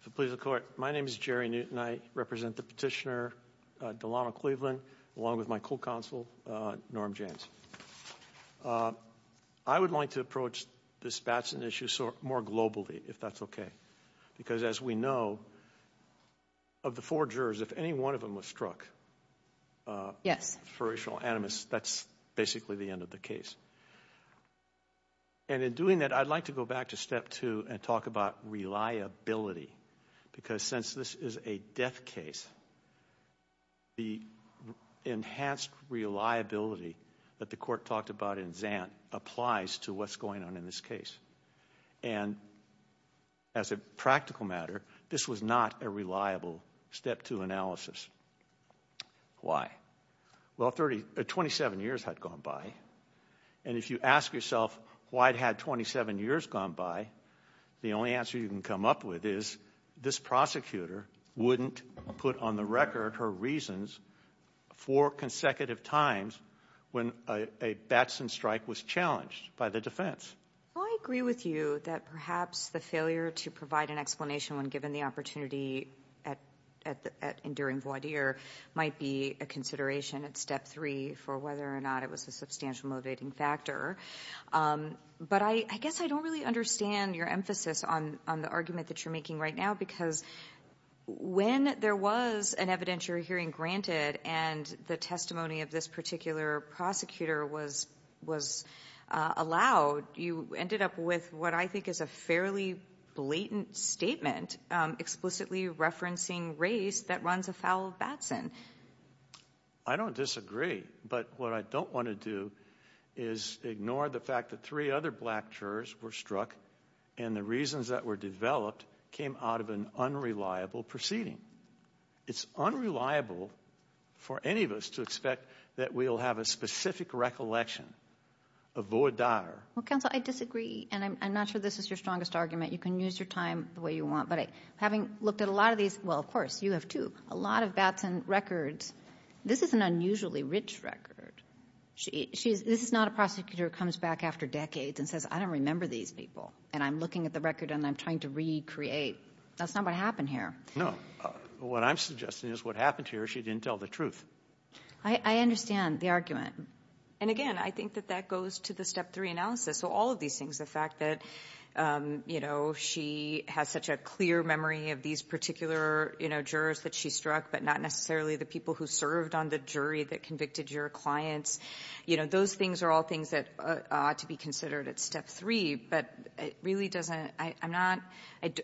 If it pleases the court, my name is Jerry Newton. I represent the petitioner Delano Cleveland, along with my co-counsel Norm James. I would like to approach this Batson issue more globally, if that's okay, because as we know, of the four jurors, if any one of them was struck, for racial animus, that's basically the end of the case. And in doing that, I'd like to go back to step two and talk about reliability, because since this is a death case, the enhanced reliability that the court talked about in Zant applies to what's going on in this case. And as a practical matter, this was not a reliable step two analysis. Why? Well, 27 years had gone by, and if you ask yourself why it had 27 years gone by, the only answer you can come up with is this prosecutor wouldn't put on the record her reasons for consecutive times when a Batson strike was challenged by the defense. I agree with you that perhaps the failure to provide an explanation when given the opportunity at Enduring Void Year might be a consideration at step three for whether or not it was a substantial motivating factor. But I guess I don't really understand your emphasis on the argument that you're making right now, because when there was an evidentiary hearing granted and the testimony of this particular prosecutor was allowed, you ended up with what I think is a fairly blatant statement explicitly referencing race that runs afoul of Batson. I don't disagree, but what I don't want to do is ignore the fact that three other black jurors were struck and the reasons that were developed came out of an unreliable proceeding. It's unreliable for any of us to expect that we'll have a specific recollection of Void Dotter. Well, counsel, I disagree, and I'm not sure this is your strongest argument. You can use your time the way you want, but having looked at a lot of these, well, of This is not a prosecutor who comes back after decades and says, I don't remember these people, and I'm looking at the record and I'm trying to recreate. That's not what happened here. No, what I'm suggesting is what happened here, she didn't tell the truth. I understand the argument. And again, I think that that goes to the step three analysis. So all of these things, the fact that, you know, she has such a clear memory of these particular, you know, jurors that she struck, but not necessarily the people who served on the jury that convicted your clients. You know, those things are all things that ought to be considered at step three, but it really doesn't, I'm not,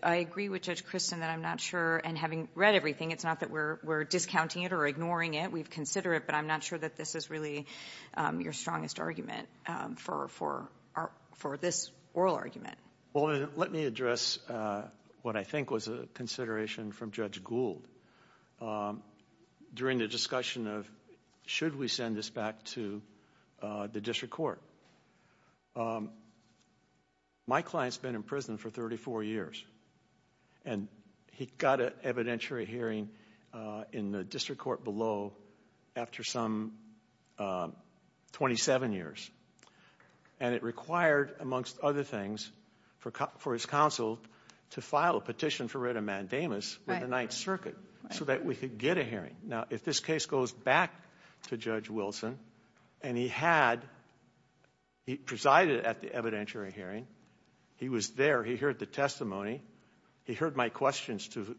I agree with Judge Christin that I'm not sure, and having read everything, it's not that we're discounting it or ignoring it. We've considered it, but I'm not sure that this is really your strongest argument for this oral argument. Well, let me address what I think was a consideration from Judge Gould. During the discussion of should we send this back to the district court, my client's been in prison for 34 years, and he got an evidentiary hearing in the district court below after some 27 years, and it required, amongst other things, for his counsel to file a petition for writ of mandamus with the Ninth Circuit. So that we could get a hearing. Now, if this case goes back to Judge Wilson, and he had, he presided at the evidentiary hearing, he was there, he heard the testimony, he heard my questions to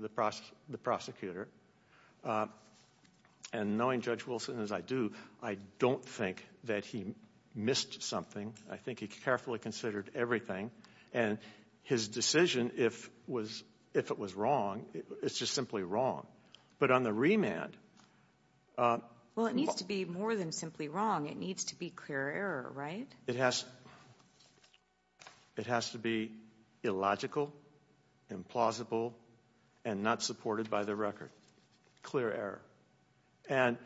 the prosecutor, and knowing Judge Wilson as I do, I don't think that he missed something. I think he carefully considered everything, and his decision, if it was wrong, it's just simply wrong. But on the remand. Well, it needs to be more than simply wrong. It needs to be clear error, right? It has to be illogical, implausible, and not supported by the record. Clear error. And.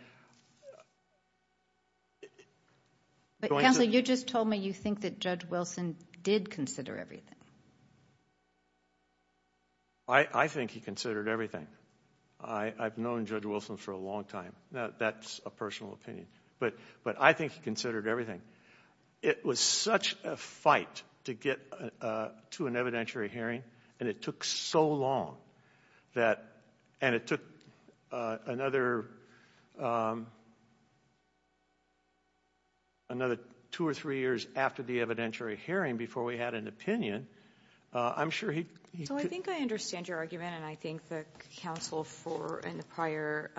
Counselor, you just told me you think that Judge Wilson did consider everything. I think he considered everything. I've known Judge Wilson for a long time. Now, that's a personal opinion, but I think he considered everything. It was such a fight to get to an evidentiary hearing, and it took so long that, and it took another, another two or three years after the evidentiary hearing before we had an opinion, I'm sure he. So I think I understand your argument, and I think the counsel for in the prior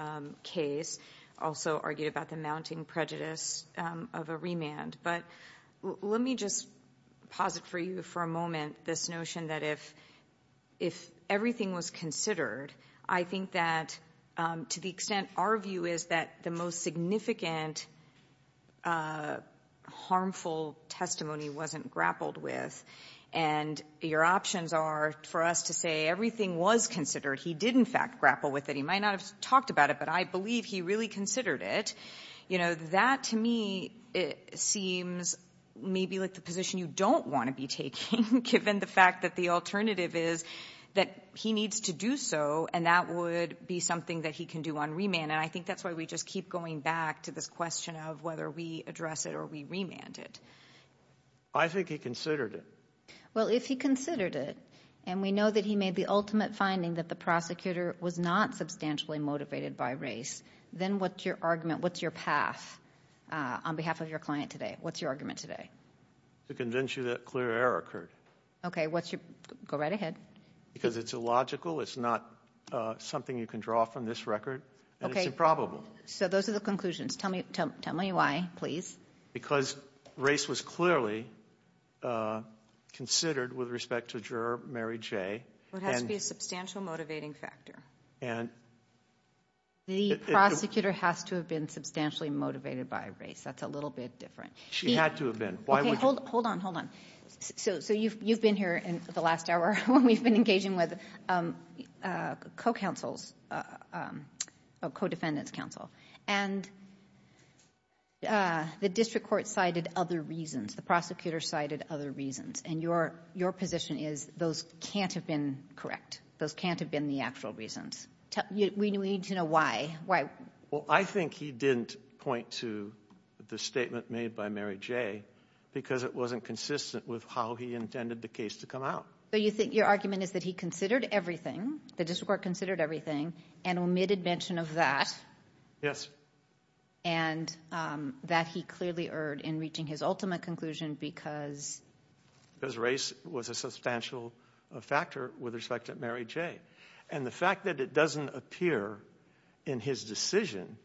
case also argued about the mounting prejudice of a remand. But let me just pause it for you for a moment. This notion that if if everything was considered, I think that to the extent our view is that the most significant. Harmful testimony wasn't grappled with. And your options are for us to say everything was considered. He did, in fact, grapple with it. He might not have talked about it, but I believe he really considered it. You know, that to me, it seems maybe like the position you don't want to be taking, given the fact that the alternative is that he needs to do so. And that would be something that he can do on remand. And I think that's why we just keep going back to this question of whether we address it or we remanded. I think he considered it. Well, if he considered it and we know that he made the ultimate finding that the prosecutor was not substantially motivated by race, then what's your argument? What's your path on behalf of your client today? What's your argument today? To convince you that clear error occurred. OK, what's your go right ahead? Because it's illogical. It's not something you can draw from this record. And it's improbable. So those are the conclusions. Tell me, tell me why, please. Because race was clearly considered with respect to juror Mary J. It has to be a substantial motivating factor. And. The prosecutor has to have been substantially motivated by race. That's a little bit different. She had to have been. Why? Hold on, hold on. So so you've you've been here in the last hour when we've been engaging with co-counsels, co-defendants counsel. And the district court cited other reasons. The prosecutor cited other reasons. And your your position is those can't have been correct. Those can't have been the actual reasons. We need to know why. Well, I think he didn't point to the statement made by Mary J. Because it wasn't consistent with how he intended the case to come out. So you think your argument is that he considered everything. The district court considered everything and omitted mention of that. Yes. And that he clearly erred in reaching his ultimate conclusion because. Because race was a substantial factor with respect to Mary J. And the fact that it doesn't appear in his decision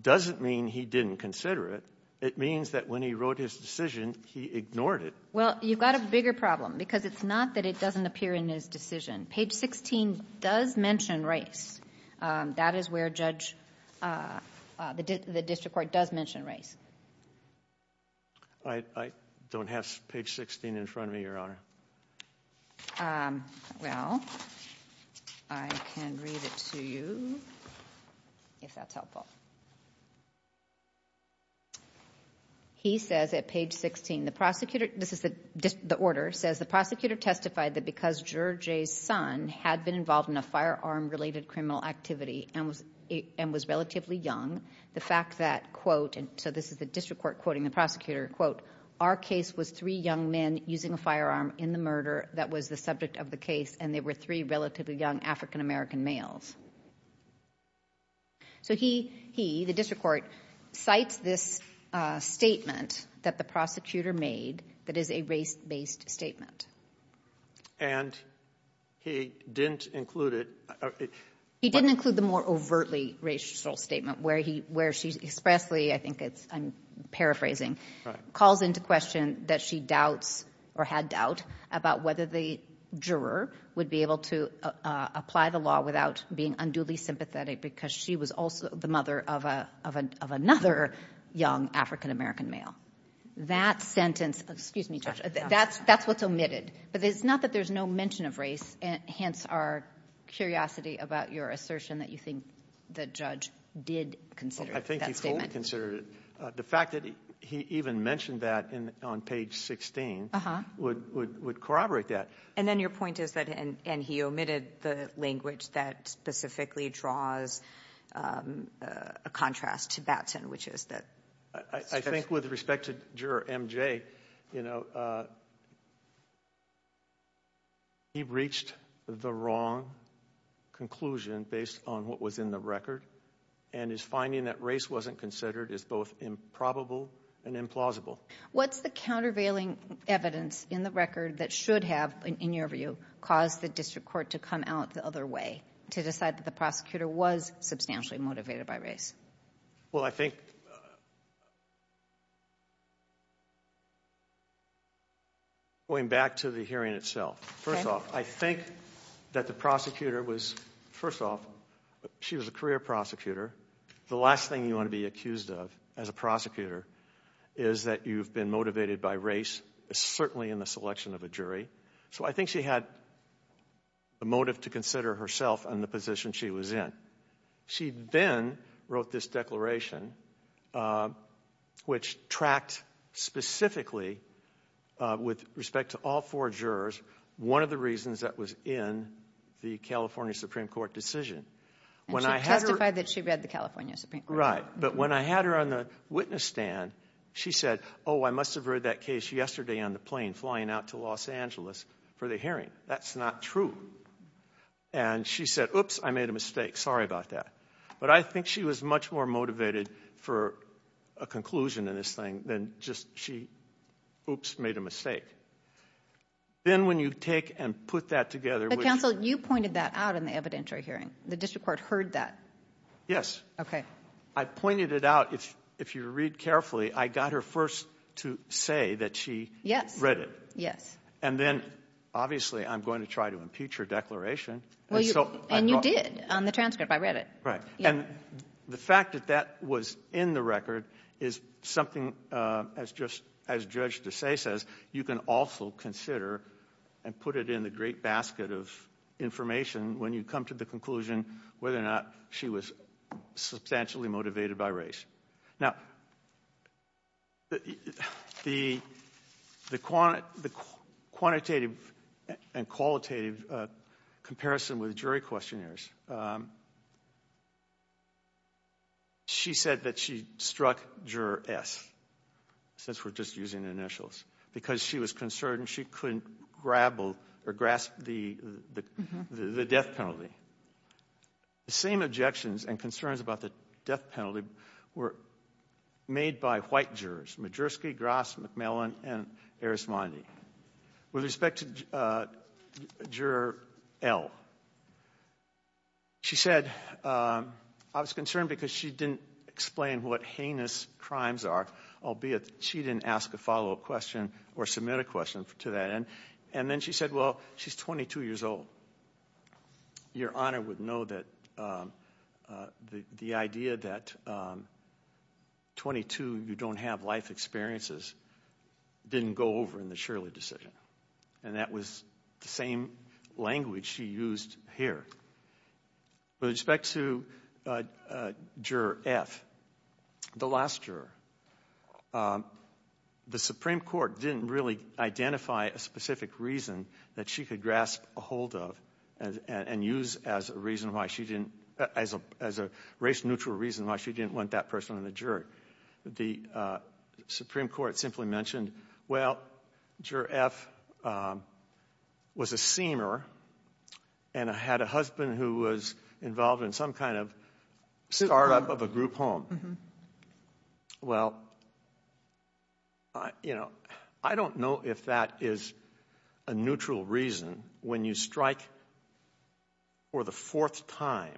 doesn't mean he didn't consider it. It means that when he wrote his decision, he ignored it. Well, you've got a bigger problem because it's not that it doesn't appear in his decision. Page 16 does mention race. That is where judge the district court does mention race. I don't have page 16 in front of me, your honor. Well, I can read it to you if that's helpful. He says at page 16, the prosecutor, this is the order, says the prosecutor testified that because George's son had been involved in a firearm related criminal activity and was and was relatively young. The fact that, quote, and so this is the district court quoting the prosecutor, quote, our case was three young men using a firearm in the murder. That was the subject of the case. And they were three relatively young African-American males. So he he the district court cites this statement that the prosecutor made that is a race based statement. And he didn't include it. He didn't include the more overtly racial statement where he where she expressly I think it's I'm paraphrasing calls into question that she doubts or had doubt about whether the juror would be able to apply the law without being unduly sympathetic because she was also the mother of a of a of another young African-American male. That sentence, excuse me, that's that's what's omitted, but it's not that there's no mention of race. And hence, our curiosity about your assertion that you think the judge did consider that statement considered the fact that he even mentioned that on page 16 would would would corroborate that. And then your point is that and he omitted the language that specifically draws a contrast to Batson, which is that. I think with respect to juror MJ, you know. He reached the wrong conclusion based on what was in the record and is finding that race wasn't considered as both improbable and implausible. What's the countervailing evidence in the record that should have, in your view, caused the district court to come out the other way to decide that the prosecutor was substantially motivated by race? Well, I think. Going back to the hearing itself, first off, I think that the prosecutor was first off, she was a career prosecutor. The last thing you want to be accused of as a prosecutor is that you've been motivated by race, certainly in the selection of a jury. So I think she had the motive to consider herself and the position she was in. She then wrote this declaration, which tracked specifically with respect to all four jurors. One of the reasons that was in the California Supreme Court decision when I testified that she read the California Supreme Court. Right. But when I had her on the witness stand, she said, oh, I must have heard that case yesterday on the plane flying out to Los Angeles for the hearing. That's not true. And she said, oops, I made a mistake. Sorry about that. But I think she was much more motivated for a conclusion in this thing than just she, oops, made a mistake. Then when you take and put that together. But counsel, you pointed that out in the evidentiary hearing. The district court heard that. Yes. OK, I pointed it out. If if you read carefully, I got her first to say that she read it. Yes. And then obviously, I'm going to try to impeach her declaration. Well, and you did on the transcript. I read it. Right. And the fact that that was in the record is something as just as judge to say, says you can also consider and put it in the great basket of information when you come to the conclusion whether or not she was substantially motivated by race. Now. The the the quantitative and qualitative comparison with jury questionnaires. She said that she struck juror S since we're just using initials because she was concerned she couldn't grapple or grasp the the death penalty. The same objections and concerns about the death penalty were made by white jurors, Majerski, Grass, McMillan and Arismondi. With respect to juror L, she said I was concerned because she didn't explain what heinous crimes are, albeit she didn't ask a follow up question or submit a question to that. And then she said, well, she's 22 years old. Your honor would know that the idea that 22 you don't have life experiences didn't go over in the Shirley decision. And that was the same language she used here. With respect to juror F, the last juror, the Supreme Court didn't really identify a specific reason that she could grasp a hold of and use as a reason why she didn't as a as a race neutral reason why she didn't want that person in the jury. The Supreme Court simply mentioned, well, juror F was a seamer and had a husband who was involved in some kind of startup of a group home. Well, I don't know if that is a neutral reason when you strike for the fourth time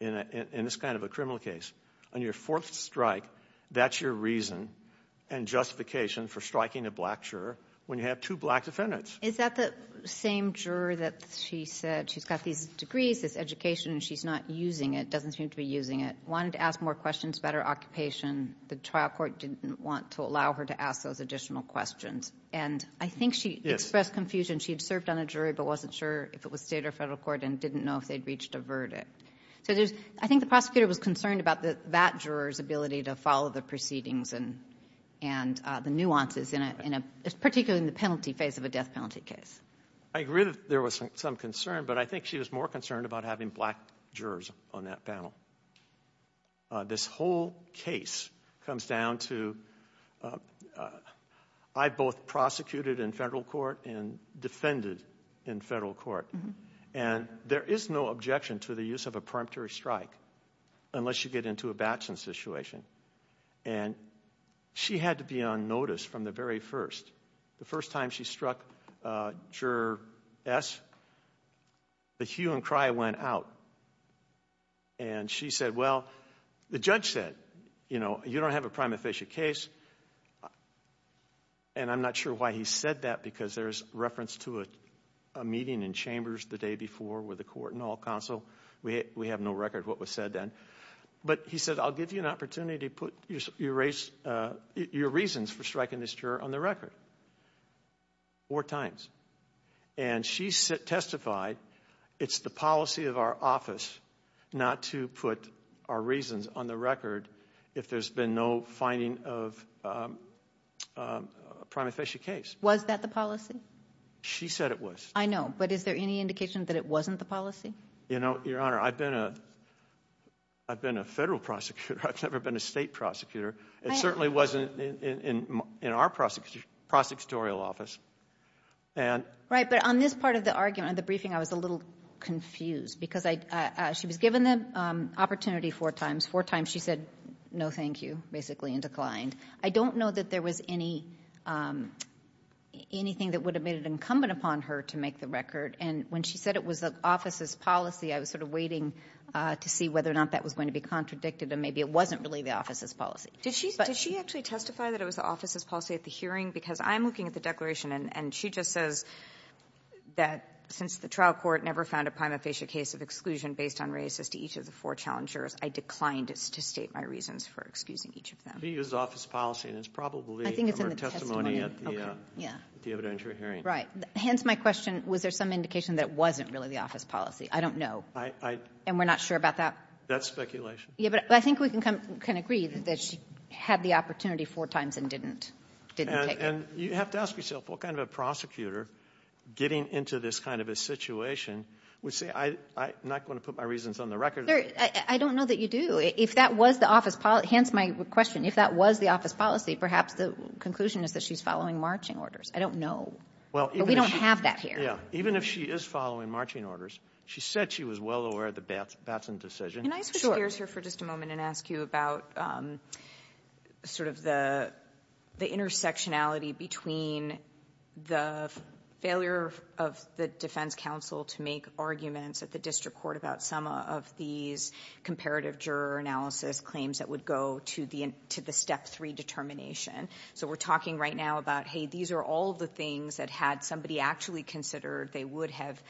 in this kind of a criminal case. On your fourth strike, that's your reason and justification for striking a black juror when you have two black defendants. Is that the same juror that she said she's got these degrees, this education, and she's not using it, doesn't seem to be using it, wanted to ask more questions about her occupation. The trial court didn't want to allow her to ask those additional questions. And I think she expressed confusion. She had served on a jury but wasn't sure if it was state or federal court and didn't know if they'd reached a verdict. So I think the prosecutor was concerned about that juror's ability to follow the proceedings and the nuances, particularly in the penalty phase of a death penalty case. I agree that there was some concern, but I think she was more concerned about having black jurors on that panel. This whole case comes down to, I both prosecuted in federal court and defended in federal court. And there is no objection to the use of a peremptory strike unless you get into a batson situation. And she had to be on notice from the very first. The first time she struck Juror S, the hue and cry went out. And she said, well, the judge said, you know, you don't have a prima facie case. And I'm not sure why he said that because there's reference to a meeting in chambers the day before where the court and all counsel, we have no record of what was said then. But he said, I'll give you an opportunity to put your reasons for striking this juror on the record. Four times. And she testified, it's the policy of our office not to put our reasons on the record if there's been no finding of a prima facie case. Was that the policy? She said it was. I know. But is there any indication that it wasn't the policy? You know, Your Honor, I've been a federal prosecutor. I've never been a state prosecutor. It certainly wasn't in our prosecutorial office. Right. But on this part of the argument, the briefing, I was a little confused because she was given the opportunity four times. Four times she said, no, thank you, basically, and declined. I don't know that there was anything that would have made it incumbent upon her to make the record. And when she said it was the office's policy, I was sort of waiting to see whether or not that was going to be contradicted. And maybe it wasn't really the office's policy. Did she actually testify that it was the office's policy at the hearing? Because I'm looking at the declaration, and she just says that since the trial court never found a prima facie case of exclusion based on racist to each of the four challengers, I declined to state my reasons for excusing each of them. She used the office policy, and it's probably in her testimony at the evidentiary hearing. Right. Hence my question, was there some indication that it wasn't really the office policy? I don't know. And we're not sure about that? That's speculation. Yeah, but I think we can agree that she had the opportunity four times and didn't take it. And you have to ask yourself, what kind of a prosecutor, getting into this kind of a situation, would say, I'm not going to put my reasons on the record? I don't know that you do. If that was the office policy, hence my question, if that was the office policy, perhaps the conclusion is that she's following marching orders. I don't know, but we don't have that here. Yeah, even if she is following marching orders, she said she was well aware of the Batson decision. Can I switch gears here for just a moment and ask you about sort of the intersectionality between the failure of the defense counsel to make arguments at the district court about some of these comparative juror analysis claims that would go to the step three determination? So we're talking right now about, hey, these are all the things that had somebody actually considered they would have,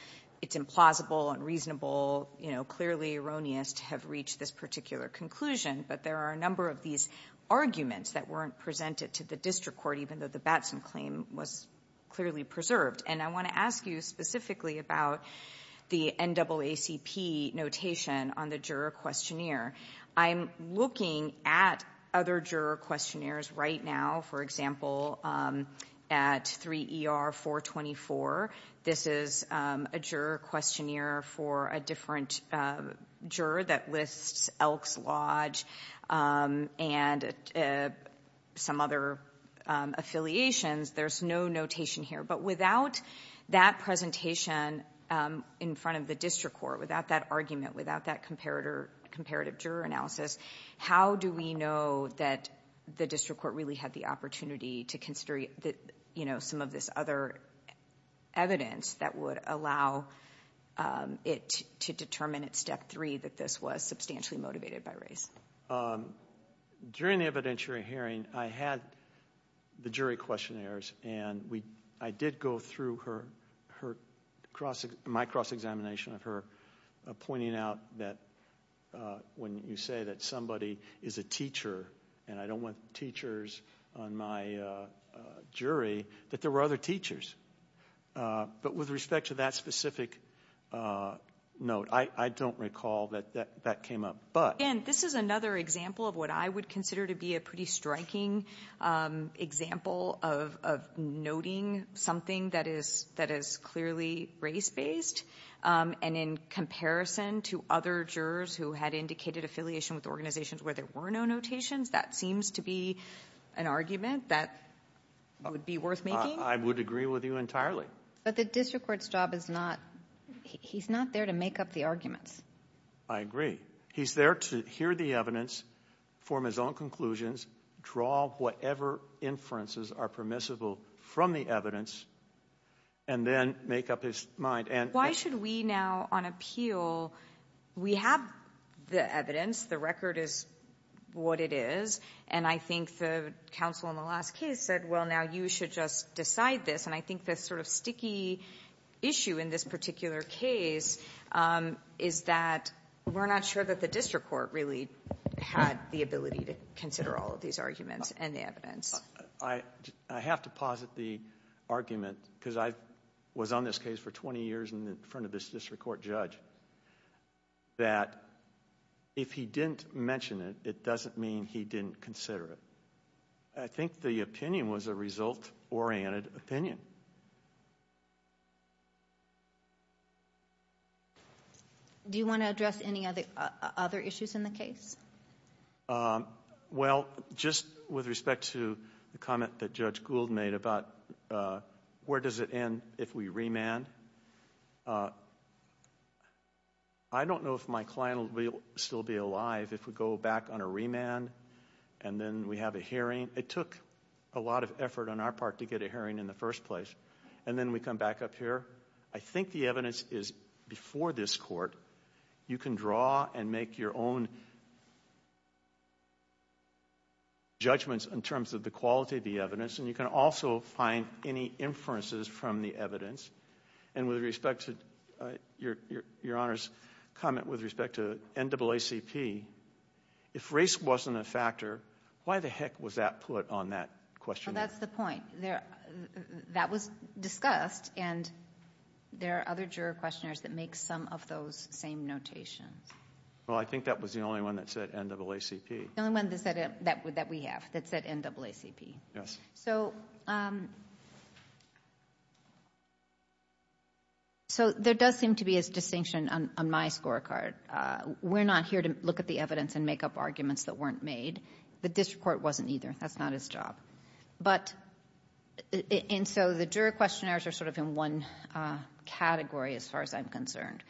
it's implausible and reasonable, clearly erroneous to have reached this particular conclusion. But there are a number of these arguments that weren't presented to the district court, even though the Batson claim was clearly preserved. And I want to ask you specifically about the NAACP notation on the juror questionnaire. I'm looking at other juror questionnaires right now, for example, at 3ER424. This is a juror questionnaire for a different juror that lists Elks Lodge and some other affiliations. There's no notation here. But without that presentation in front of the district court, without that argument, without that comparative juror analysis, how do we know that the district court really had the opportunity to consider some of this other evidence that would allow it to determine at step three that this was substantially motivated by race? During the evidentiary hearing, I had the jury questionnaires, and I did go through my cross-examination of her, pointing out that when you say that somebody is a teacher, and I don't want teachers on my jury, that there were other teachers. But with respect to that specific note, I don't recall that that came up. And this is another example of what I would consider to be a pretty striking example of noting something that is clearly race-based. And in comparison to other jurors who had indicated affiliation with organizations where there were no notations, that seems to be an argument that would be worth making. I would agree with you entirely. But the district court's job is not, he's not there to make up the arguments. I agree. He's there to hear the evidence, form his own conclusions, draw whatever inferences are permissible from the evidence, and then make up his mind. Why should we now, on appeal, we have the evidence, the record is what it is. And I think the counsel in the last case said, well, now you should just decide this. And I think the sort of sticky issue in this particular case is that we're not sure that the district court really had the ability to consider all of these arguments and the evidence. I have to posit the argument, because I was on this case for 20 years in front of this district court judge, that if he didn't mention it, it doesn't mean he didn't consider it, I think the opinion was a result-oriented opinion. Do you want to address any other issues in the case? Well, just with respect to the comment that Judge Gould made about where does it end if we remand? I don't know if my client will still be alive if we go back on a remand and then we have a hearing. It took a lot of effort on our part to get a hearing in the first place, and then we come back up here. I think the evidence is before this court. You can draw and make your own judgments in terms of the quality of the evidence. And you can also find any inferences from the evidence. And with respect to your Honor's comment with respect to NAACP, if race wasn't a factor, why the heck was that put on that question? Well, that's the point. That was discussed, and there are other juror questionnaires that make some of those same notations. Well, I think that was the only one that said NAACP. The only one that we have that said NAACP. Yes. So there does seem to be a distinction on my scorecard. We're not here to look at the evidence and make up arguments that weren't made. The district court wasn't either. That's not his job. But, and so the juror questionnaires are sort of in one category as far as I'm concerned.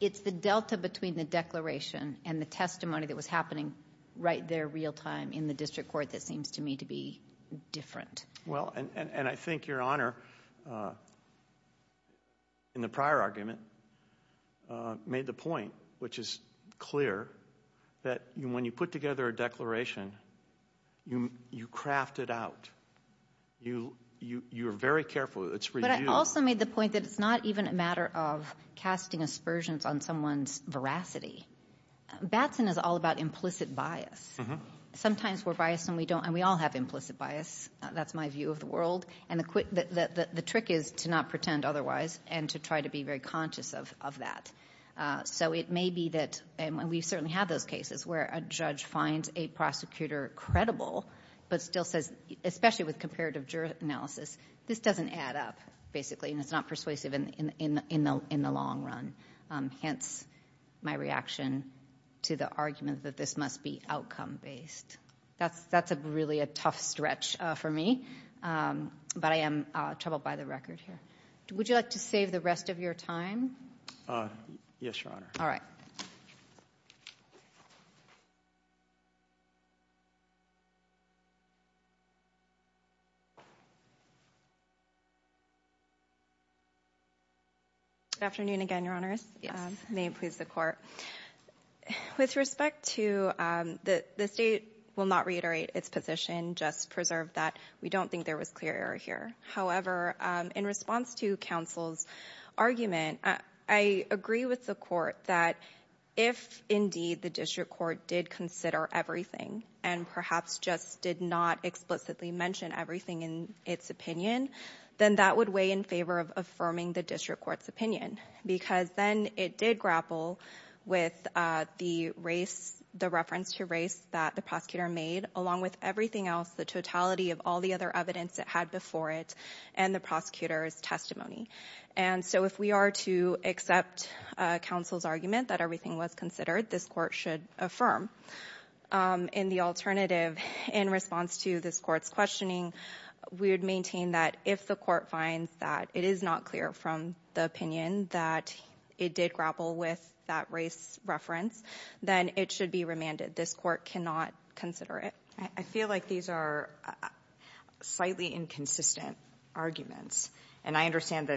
It's the delta between the declaration and the testimony that was happening right there real time in the district court that seems to me to be different. Well, and I think your Honor in the prior argument made the point, which is clear, that when you put together a declaration, you craft it out. You're very careful. It's for you. But I also made the point that it's not even a matter of casting aspersions on someone's veracity. Batson is all about implicit bias. Sometimes we're biased and we don't, and we all have implicit bias. That's my view of the world. And the trick is to not pretend otherwise and to try to be very conscious of that. So it may be that, and we certainly have those cases where a judge finds a prosecutor credible, but still says, especially with comparative juror analysis, this doesn't add up, basically. And it's not persuasive in the long run. Hence, my reaction to the argument that this must be outcome based. That's really a tough stretch for me. But I am troubled by the record here. Would you like to save the rest of your time? Yes, Your Honor. All right. Good afternoon again, Your Honors. May it please the Court. With respect to the state will not reiterate its position, just preserve that we don't think there was clear error here. However, in response to counsel's argument, I agree with the court that if indeed the district court did consider everything and perhaps just did not explicitly mention everything in its opinion, then that would weigh in favor of affirming the district court's opinion. Because then it did grapple with the reference to race that the prosecutor made, along with everything else, the totality of all the other evidence it had before it, and the prosecutor's testimony. And so if we are to accept counsel's argument that everything was considered, this court should affirm. In the alternative, in response to this court's questioning, we would maintain that if the court finds that it is not clear from the opinion that it did grapple with that race reference, then it should be remanded. This court cannot consider it. I feel like these are slightly inconsistent arguments. And I understand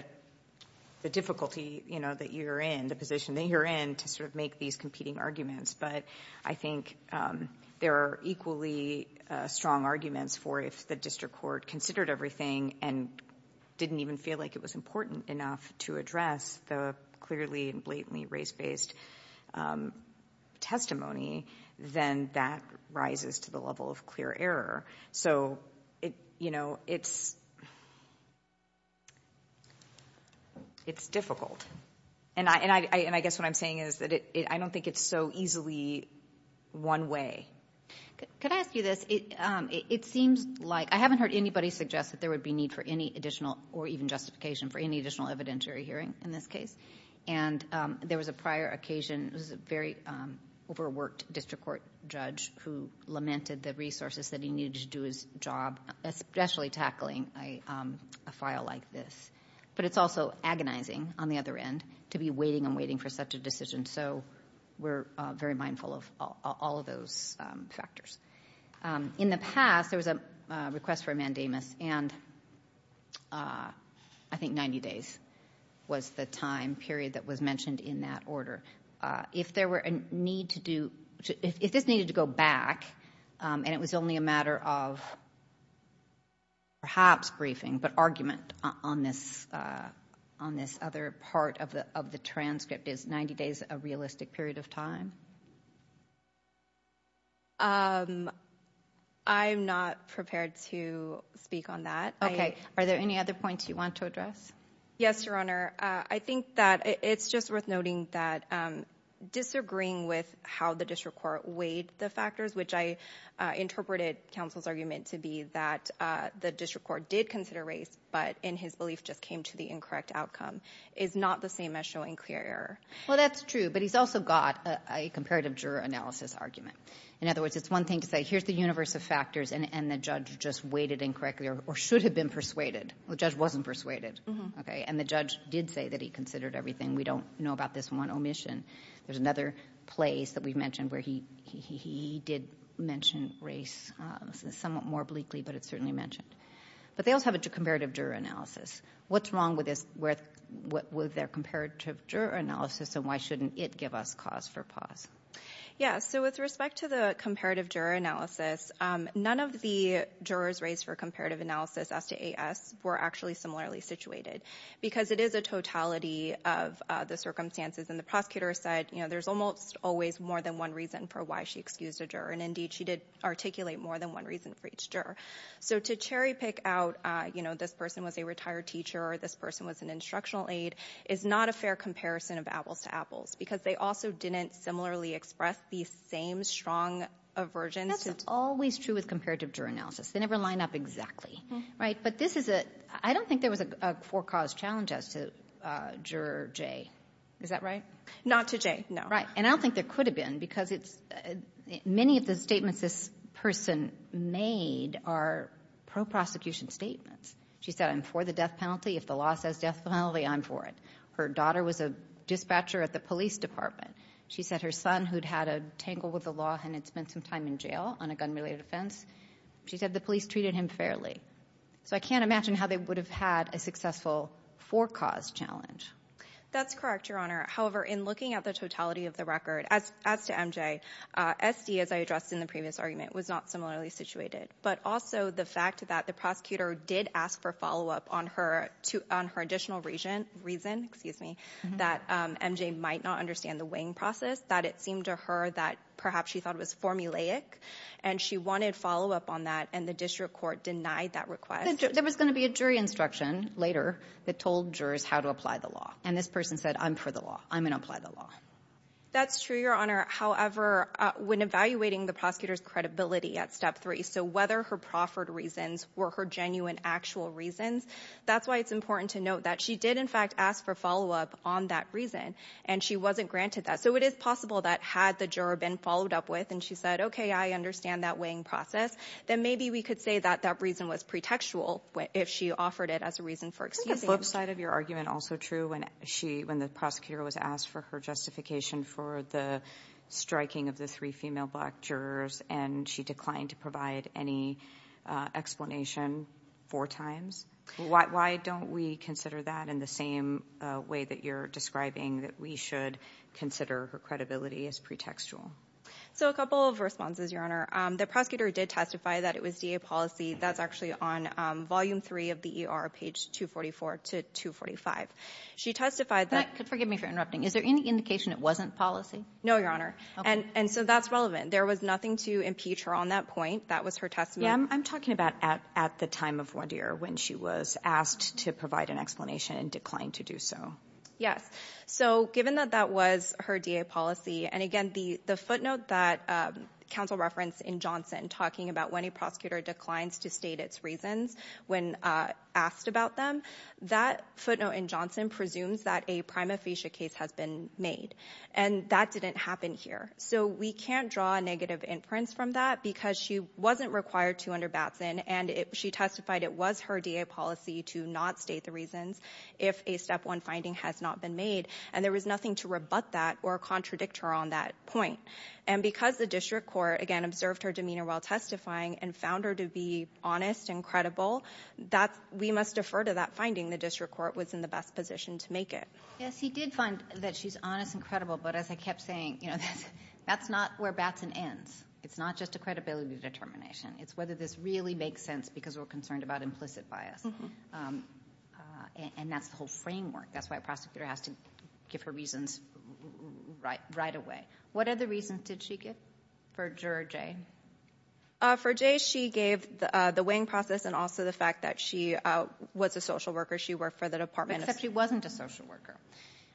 the difficulty that you're in, the position that you're in to sort of make these competing arguments. But I think there are equally strong arguments for if the district court considered everything and didn't even feel like it was important enough to address the clearly and blatantly race-based testimony. Then that rises to the level of clear error. So it's difficult. And I guess what I'm saying is that I don't think it's so easily one way. Could I ask you this? It seems like, I haven't heard anybody suggest that there would be need for any additional, or even justification for any additional evidentiary hearing in this case. And there was a prior occasion, it was a very overworked district court judge who lamented the resources that he needed to do his job, especially tackling a file like this. But it's also agonizing on the other end to be waiting and waiting for such a decision. So we're very mindful of all of those factors. In the past, there was a request for a mandamus. And I think 90 days was the time period that was mentioned in that order. If there were a need to do, if this needed to go back and it was only a matter of perhaps briefing, but argument on this other part of the transcript, is 90 days a realistic period of time? I'm not prepared to speak on that. Okay, are there any other points you want to address? Yes, your honor. I think that it's just worth noting that disagreeing with how the district court weighed the factors, which I interpreted counsel's argument to be that the district court did consider race, but in his belief just came to the incorrect outcome, is not the same as showing clear error. Well, that's true, but he's also got a comparative juror analysis argument. In other words, it's one thing to say, here's the universe of factors, and the judge just weighted incorrectly, or should have been persuaded. The judge wasn't persuaded, okay? And the judge did say that he considered everything. We don't know about this one omission. There's another place that we mentioned where he did mention race. This is somewhat more bleakly, but it's certainly mentioned. But they also have a comparative juror analysis. What's wrong with their comparative juror analysis, and why shouldn't it give us cause for pause? Yeah, so with respect to the comparative juror analysis, none of the jurors raised for comparative analysis as to AS were actually similarly situated, because it is a totality of the circumstances. And the prosecutor said there's almost always more than one reason for why she excused a juror. And indeed, she did articulate more than one reason for each juror. So to cherry pick out, this person was a retired teacher, or this person was an instructional aide, is not a fair comparison of apples to apples. Because they also didn't similarly express the same strong aversions to- That's always true with comparative juror analysis. They never line up exactly, right? But I don't think there was a for-cause challenge as to juror J. Is that right? Not to J, no. Right, and I don't think there could have been, because many of the statements this person made are pro-prosecution statements. She said, I'm for the death penalty. If the law says death penalty, I'm for it. Her daughter was a dispatcher at the police department. She said her son, who'd had a tangle with the law and had spent some time in jail on a gun-related offense, she said the police treated him fairly. So I can't imagine how they would have had a successful for-cause challenge. That's correct, Your Honor. However, in looking at the totality of the record, as to MJ, SD, as I addressed in the previous argument, was not similarly situated. But also the fact that the prosecutor did ask for follow-up on her additional reason, excuse me, that MJ might not understand the weighing process, that it seemed to her that perhaps she thought it was formulaic. And she wanted follow-up on that, and the district court denied that request. There was gonna be a jury instruction later that told jurors how to apply the law. And this person said, I'm for the law, I'm gonna apply the law. That's true, Your Honor. However, when evaluating the prosecutor's credibility at step three, so whether her proffered reasons were her genuine actual reasons, that's why it's important to note that she did in fact ask for follow-up on that reason, and she wasn't granted that. So it is possible that had the juror been followed up with and she said, okay, I understand that weighing process, then maybe we could say that that reason was pretextual if she offered it as a reason for excusing. Was the flip side of your argument also true when the prosecutor was asked for her justification for the striking of the three female black jurors, and she declined to provide any explanation four times? Why don't we consider that in the same way that you're describing, that we should consider her credibility as pretextual? So a couple of responses, Your Honor. The prosecutor did testify that it was DA policy. That's actually on volume three of the ER, page 244 to 245. She testified that- Could forgive me for interrupting. Is there any indication it wasn't policy? No, Your Honor. And so that's relevant. There was nothing to impeach her on that point. That was her testimony. Yeah, I'm talking about at the time of Revere, when she was asked to provide an explanation and declined to do so. Yes, so given that that was her DA policy, and again, the footnote that counsel referenced in Johnson, talking about when a prosecutor declines to state its reasons when asked about them, that footnote in Johnson presumes that a prima facie case has been made. And that didn't happen here. So we can't draw a negative inference from that because she wasn't required to under Batson, and she testified it was her DA policy to not state the reasons if a step one finding has not been made. And there was nothing to rebut that or contradict her on that point. And because the district court, again, observed her demeanor while testifying and found her to be honest and credible, we must defer to that finding. The district court was in the best position to make it. Yes, he did find that she's honest and credible. But as I kept saying, that's not where Batson ends. It's not just a credibility determination. It's whether this really makes sense because we're concerned about implicit bias. And that's the whole framework. That's why a prosecutor has to give her reasons right away. What other reasons did she give for Juror J? For J, she gave the weighing process and also the fact that she was a social worker. She worked for the Department of- Except she wasn't a social worker,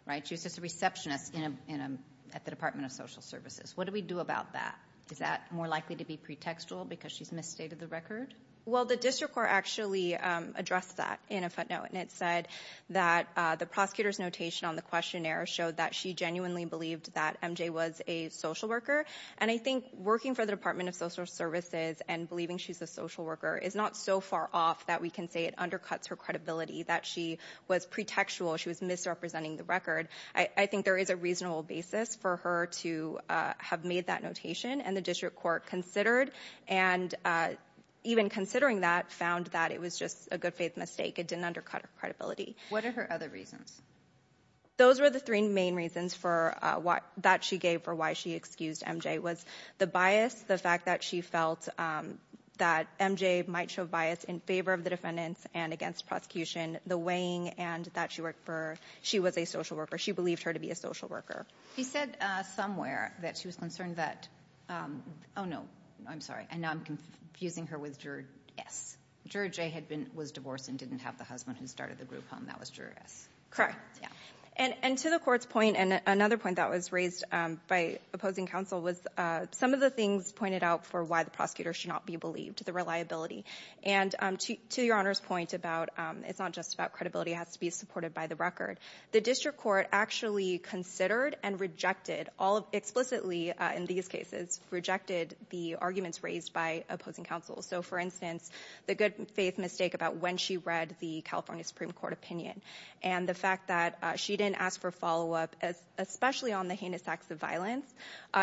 right? She was just a receptionist at the Department of Social Services. What do we do about that? Is that more likely to be pretextual because she's misstated the record? Well, the district court actually addressed that in a footnote, and it said that the prosecutor's notation on the questionnaire showed that she genuinely believed that MJ was a social worker. And I think working for the Department of Social Services and believing she's a social worker is not so far off that we can say it undercuts her credibility, that she was pretextual. She was misrepresenting the record. I think there is a reasonable basis for her to have made that notation, and the district court considered, and even considering that, found that it was just a good faith mistake. It didn't undercut her credibility. What are her other reasons? Those were the three main reasons that she gave for why she excused MJ was the bias, the fact that she felt that MJ might show bias in favor of the defendants and against prosecution, the weighing, and that she was a social worker. She believed her to be a social worker. She said somewhere that she was concerned that, no, I'm sorry, and now I'm confusing her with Juror S. Juror J was divorced and didn't have the husband who started the group home. That was Juror S. Correct, and to the court's point, and another point that was raised by opposing counsel was some of the things pointed out for why the prosecutor should not be believed, the reliability. And to your Honor's point about it's not just about credibility, it has to be supported by the record. The district court actually considered and rejected, explicitly in these cases, rejected the arguments raised by opposing counsel. So for instance, the good faith mistake about when she read the California Supreme Court opinion, and the fact that she didn't ask for follow-up, especially on the heinous acts of violence.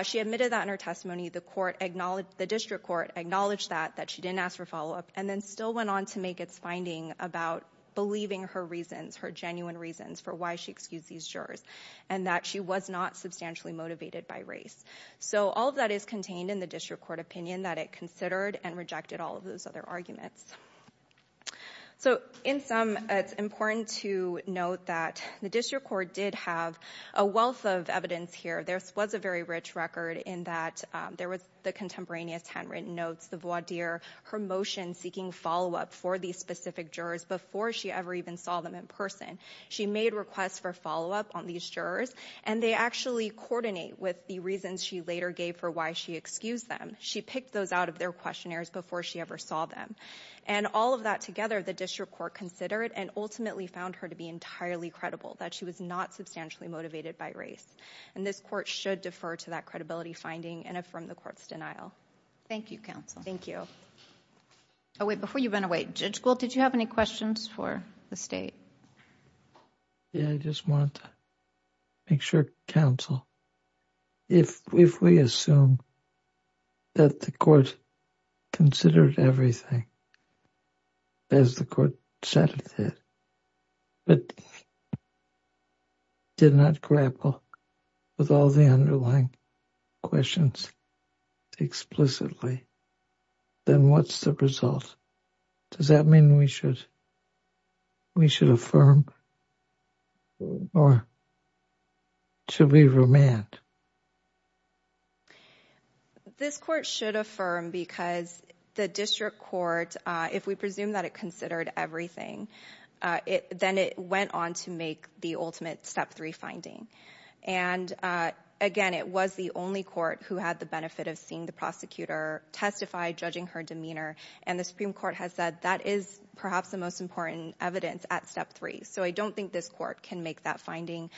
She admitted that in her testimony, the district court acknowledged that, that she didn't ask for follow-up, and then still went on to make its finding about believing her reasons, her genuine reasons for why she excused these jurors. And that she was not substantially motivated by race. So all of that is contained in the district court opinion that it considered and rejected all of those other arguments. So in sum, it's important to note that the district court did have a wealth of evidence here. There was a very rich record in that there was the contemporaneous handwritten notes, the voir dire, her motion seeking follow-up for these specific jurors before she ever even saw them in person. She made requests for follow-up on these jurors, and they actually coordinate with the reasons she later gave for why she excused them. She picked those out of their questionnaires before she ever saw them. And all of that together, the district court considered and ultimately found her to be entirely credible, that she was not substantially motivated by race. And this court should defer to that credibility finding and affirm the court's denial. Thank you, counsel. Thank you. Wait, before you run away, Judge Gould, did you have any questions for the state? Yeah, I just wanted to make sure, counsel, if we assume that the court considered everything, as the court said it did, but did not grapple with all the underlying questions explicitly, then what's the result? Does that mean we should affirm or should we remand? This court should affirm because the district court, if we presume that it considered everything, then it went on to make the ultimate step three finding. And again, it was the only court who had the benefit of seeing the prosecutor testify, judging her demeanor, and the Supreme Court has said that is perhaps the most important evidence at step three. So I don't think this court can make that finding.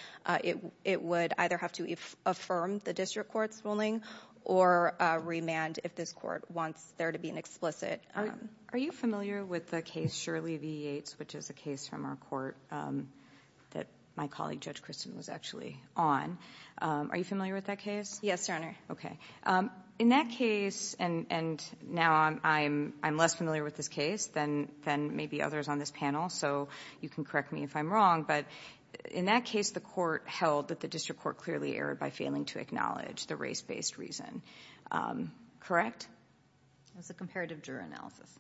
It would either have to affirm the district court's ruling or remand if this court wants there to be an explicit- Are you familiar with the case Shirley v. Yates, which is a case from our court that my colleague Judge Kristen was actually on? Are you familiar with that case? Yes, Your Honor. Okay. In that case, and now I'm less familiar with this case than maybe others on this panel, so you can correct me if I'm wrong. But in that case, the court held that the district court clearly erred by failing to acknowledge the race-based reason. Correct? It was a comparative juror analysis.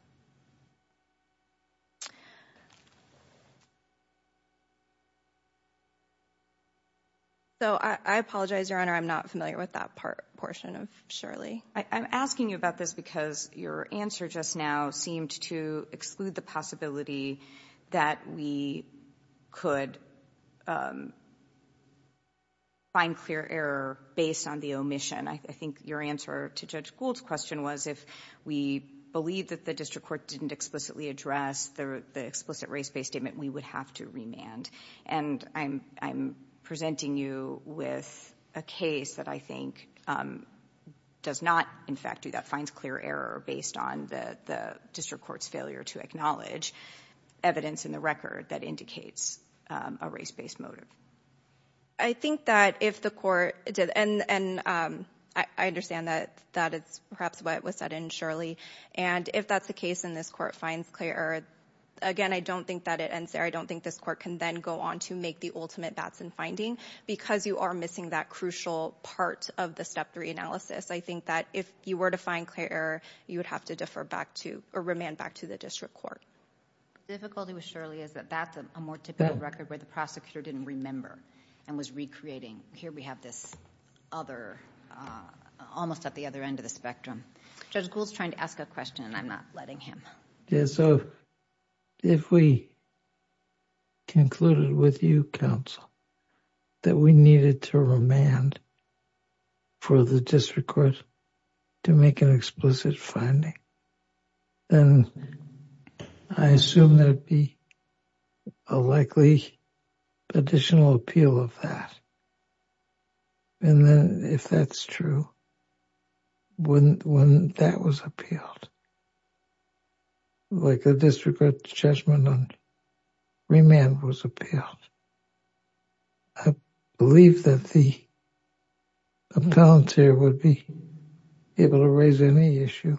So I apologize, Your Honor. I'm not familiar with that portion of Shirley. I'm asking you about this because your answer just now to exclude the possibility that we could find clear error based on the omission. I think your answer to Judge Gould's question was if we believe that the district court didn't explicitly address the explicit race-based statement, we would have to remand. And I'm presenting you with a case that I think does not, in fact, do that, finds clear error based on the district court's failure to acknowledge evidence in the record that indicates a race-based motive. I think that if the court did, and I understand that it's perhaps what was said in Shirley, and if that's the case and this court finds clear error, again, I don't think that it ends there. I don't think this court can then go on to make the ultimate bats and finding because you are missing that crucial part of the step three analysis. I think that if you were to find clear error, you would have to defer back to, or remand back to the district court. The difficulty with Shirley is that that's a more typical record where the prosecutor didn't remember and was recreating. Here we have this other, almost at the other end of the spectrum. Judge Gould's trying to ask a question and I'm not letting him. Yeah, so if we concluded with you, counsel, that we needed to remand for the district court to make an explicit finding, then I assume there'd be a likely additional appeal of that. And then if that's true, wouldn't that was appealed? Like a district court judgment on remand was appealed. I believe that the appellate here would be able to raise any issue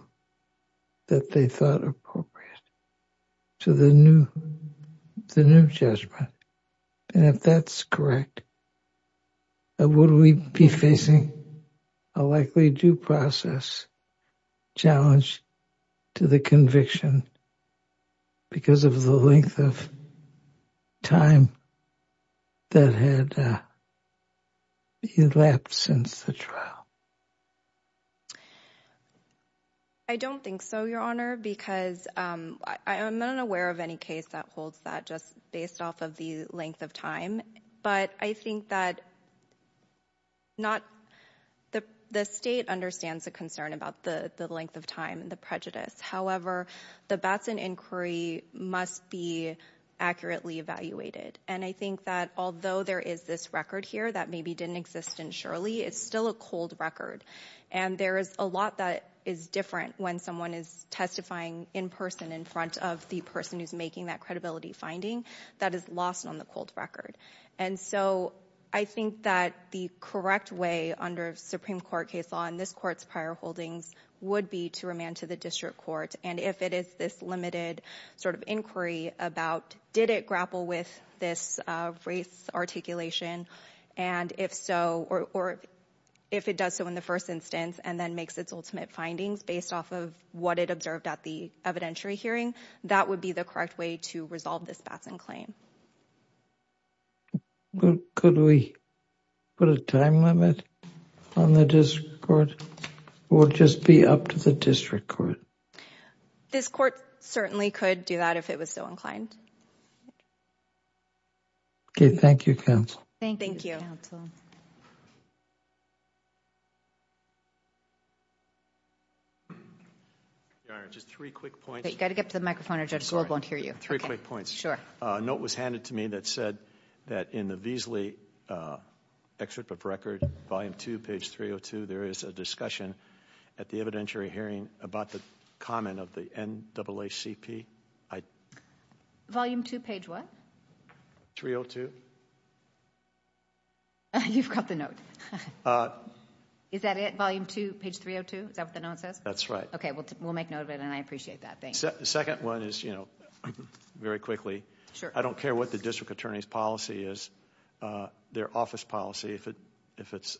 that they thought appropriate to the new judgment. And if that's correct, would we be facing a likely due process challenge to the conviction because of the length of time that had elapsed since the trial? I don't think so, Your Honor, because I'm not aware of any case that holds that, just based off of the length of time. But I think that the state understands the concern about the length of time and the prejudice. However, the Batson inquiry must be accurately evaluated. And I think that although there is this record here that maybe didn't exist in Shirley, it's still a cold record. And there is a lot that is different when someone is testifying in person in front of the person who's making that credibility finding that is lost on the cold record. And so I think that the correct way under Supreme Court case law in this court's prior holdings would be to remand to the district court. And if it is this limited sort of inquiry about did it grapple with this race articulation? And if so, or if it does so in the first instance and then makes its ultimate findings based off of what it observed at the evidentiary hearing, that would be the correct way to resolve this Batson claim. Could we put a time limit on the district court? Or just be up to the district court? This court certainly could do that if it was so inclined. Okay, thank you, counsel. Thank you, counsel. Your Honor, just three quick points. Got to get to the microphone or Judge Gould won't hear you. Three quick points. A note was handed to me that said that in the Veasley excerpt of record, volume two, page 302, there is a discussion at the evidentiary hearing about the comment of the NAACP. Volume two, page what? 302. You've got the note. Is that it? Volume two, page 302? Is that what the note says? That's right. Okay, we'll make note of it. And I appreciate that. The second one is, very quickly, I don't care what the district attorney's policy is, their office policy, if it's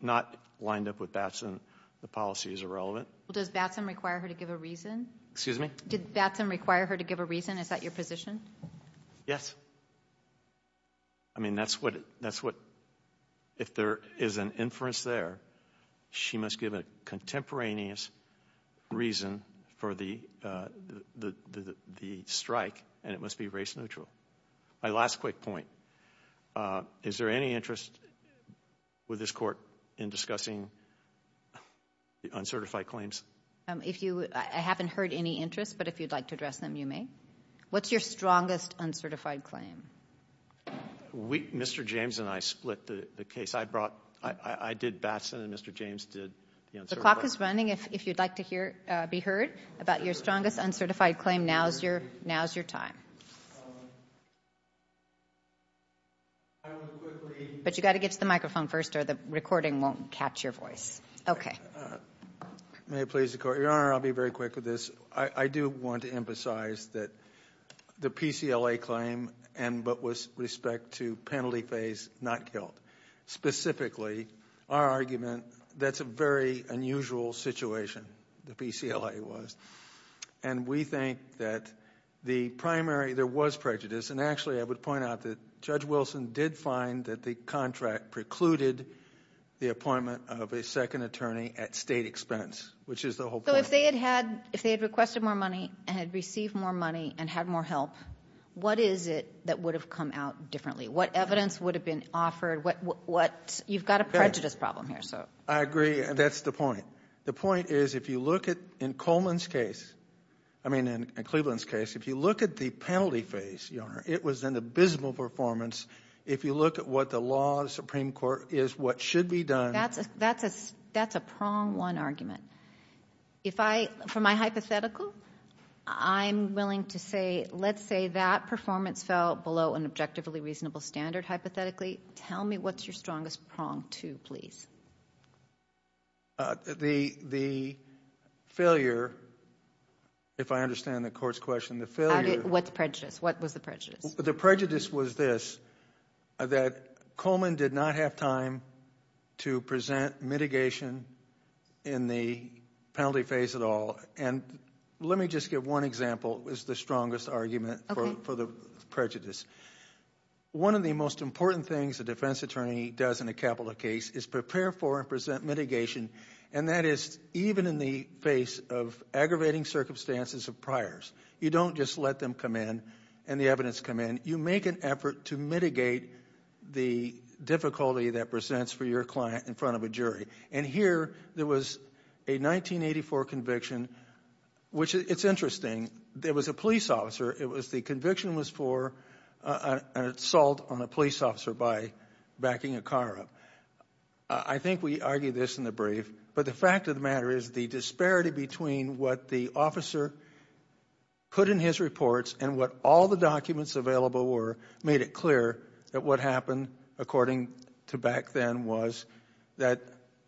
not lined up with Batson, the policy is irrelevant. Does Batson require her to give a reason? Excuse me? Did Batson require her to give a reason? Is that your position? Yes. I mean, that's what, if there is an inference there, she must give a contemporaneous reason for the strike, and it must be race neutral. My last quick point, is there any interest with this court in discussing uncertified claims? I haven't heard any interest, but if you'd like to address them, you may. What's your strongest uncertified claim? Mr. James and I split the case. I did Batson, and Mr. James did the uncertified claim. The clock is running. If you'd like to be heard about your strongest uncertified claim, now's your time. But you've got to get to the microphone first, or the recording won't catch your voice. Okay. May it please the court. Your Honor, I'll be very quick with this. I do want to emphasize that the PCLA claim, but with respect to penalty phase, not killed. Specifically, our argument, that's a very unusual situation, the PCLA was. And we think that the primary, there was prejudice. And actually, I would point out that Judge Wilson did find that the contract precluded the appointment of a second attorney at state expense, which is the whole point. So if they had requested more money, and had received more money, and had more help, what is it that would have come out differently? What evidence would have been offered? You've got a prejudice problem here, so. I agree, and that's the point. The point is, if you look at, in Coleman's case, I mean, in Cleveland's case, if you look at the penalty phase, Your Honor, it was an abysmal performance. If you look at what the law of the Supreme Court is, what should be done. That's a prong one argument. For my hypothetical, I'm willing to say, let's say that performance fell below an objectively reasonable standard, hypothetically. Tell me what's your strongest prong two, please. The failure, if I understand the court's question, the failure. What's prejudice? What was the prejudice? The prejudice was this, that Coleman did not have time to present mitigation in the penalty phase at all. And let me just give one example, is the strongest argument for the prejudice. One of the most important things a defense attorney does in a capital case is prepare for and present mitigation. And that is even in the face of aggravating circumstances of priors. You don't just let them come in and the evidence come in. You make an effort to mitigate the difficulty that presents for your client in front of a jury. And here, there was a 1984 conviction, which it's interesting. There was a police officer. The conviction was for an assault on a police officer by backing a car up. I think we argued this in the brief. But the fact of the matter is, the disparity between what the officer put in his reports and what all the documents available were, made it clear that what happened, according to back then, was that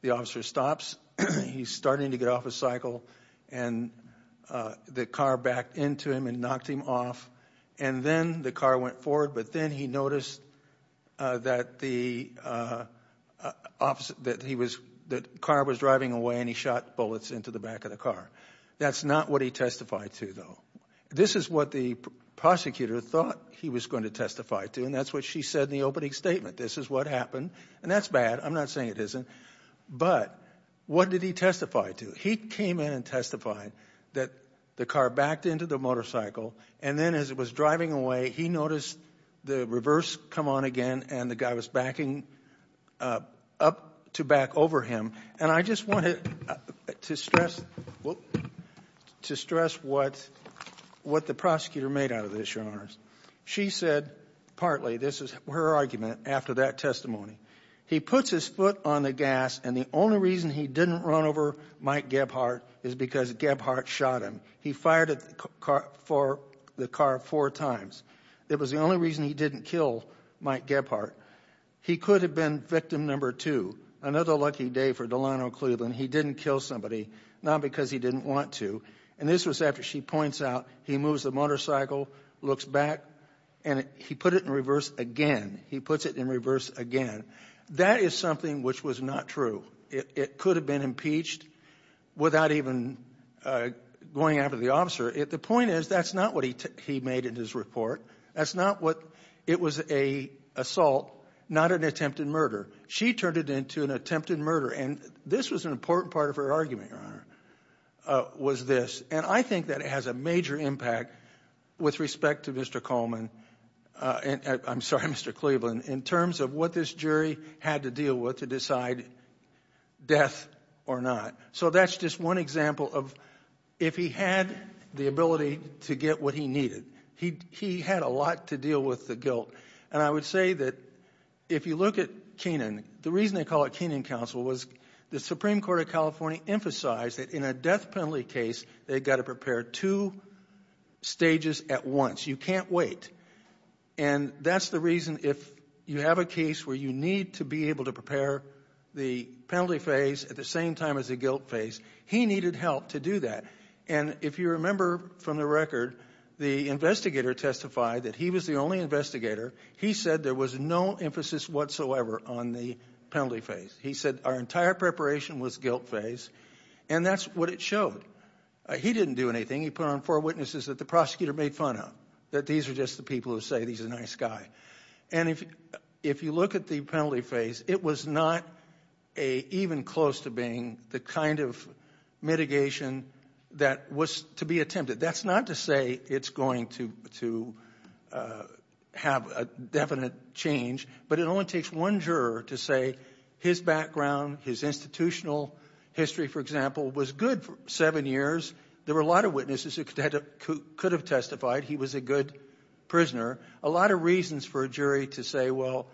the officer stops, he's starting to get off his cycle, and the car backed into him and knocked him off. And then the car went forward. But then he noticed that the car was driving away, and he shot bullets into the back of the car. That's not what he testified to, though. This is what the prosecutor thought he was going to testify to. And that's what she said in the opening statement. This is what happened. And that's bad. I'm not saying it isn't. But what did he testify to? He came in and testified that the car backed into the motorcycle, and then as it was driving away, he noticed the reverse come on again, and the guy was backing up to back over him. And I just wanted to stress what the prosecutor made out of this, Your Honors. She said, partly, this is her argument after that testimony, he puts his foot on the gas, and the only reason he didn't run over Mike Gebhardt is because Gebhardt shot him. He fired at the car four times. It was the only reason he didn't kill Mike Gebhardt. He could have been victim number two. Another lucky day for Delano Cleveland. He didn't kill somebody, not because he didn't want to. And this was after she points out he moves the motorcycle, looks back, and he put it in reverse again. He puts it in reverse again. That is something which was not true. It could have been impeached without even going after the officer. The point is, that's not what he made in his report. That's not what, it was an assault, not an attempted murder. She turned it into an attempted murder. And this was an important part of her argument, Your Honor, was this. And I think that it has a major impact with respect to Mr. Coleman, and I'm sorry, Mr. Cleveland, in terms of what this jury had to deal with to decide death or not. So that's just one example of if he had the ability to get what he needed. He had a lot to deal with the guilt. And I would say that if you look at Kenan, the reason they call it Kenan counsel was the Supreme Court of California emphasized that in a death penalty case, they've got to prepare two stages at once. You can't wait. And that's the reason if you have a case where you need to be able to prepare the penalty phase at the same time as the guilt phase, he needed help to do that. And if you remember from the record, the investigator testified that he was the only investigator. He said there was no emphasis whatsoever on the penalty phase. He said our entire preparation was guilt phase. And that's what it showed. He didn't do anything. He put on four witnesses that the prosecutor made fun of, that these are just the people who say he's a nice guy. And if you look at the penalty phase, it was not even close to being the kind of mitigation that was to be attempted. That's not to say it's going to have a definite change, but it only takes one juror to say his background, his institutional history, for example, was good for seven years. There were a lot of witnesses who could have testified he was a good prisoner. A lot of reasons for a jury to say, well,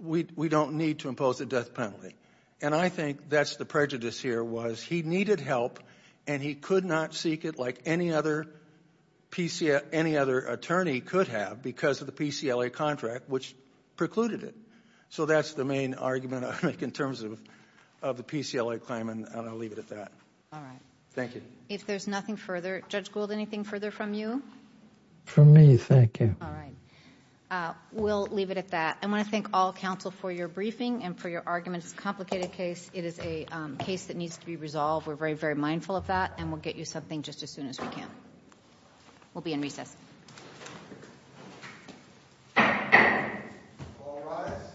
we don't need to impose a death penalty. And I think that's the prejudice here was he needed help and he could not seek it like any other attorney could have because of the PCLA contract, which precluded it. So that's the main argument I make in terms of the PCLA claim. And I'll leave it at that. All right. Thank you. If there's nothing further, Judge Gould, anything further from you? From me, thank you. All right. We'll leave it at that. I want to thank all counsel for your briefing and for your arguments. It's a complicated case. It is a case that needs to be resolved. We're very, very mindful of that. And we'll get you something just as soon as we can. We'll be in recess. All rise.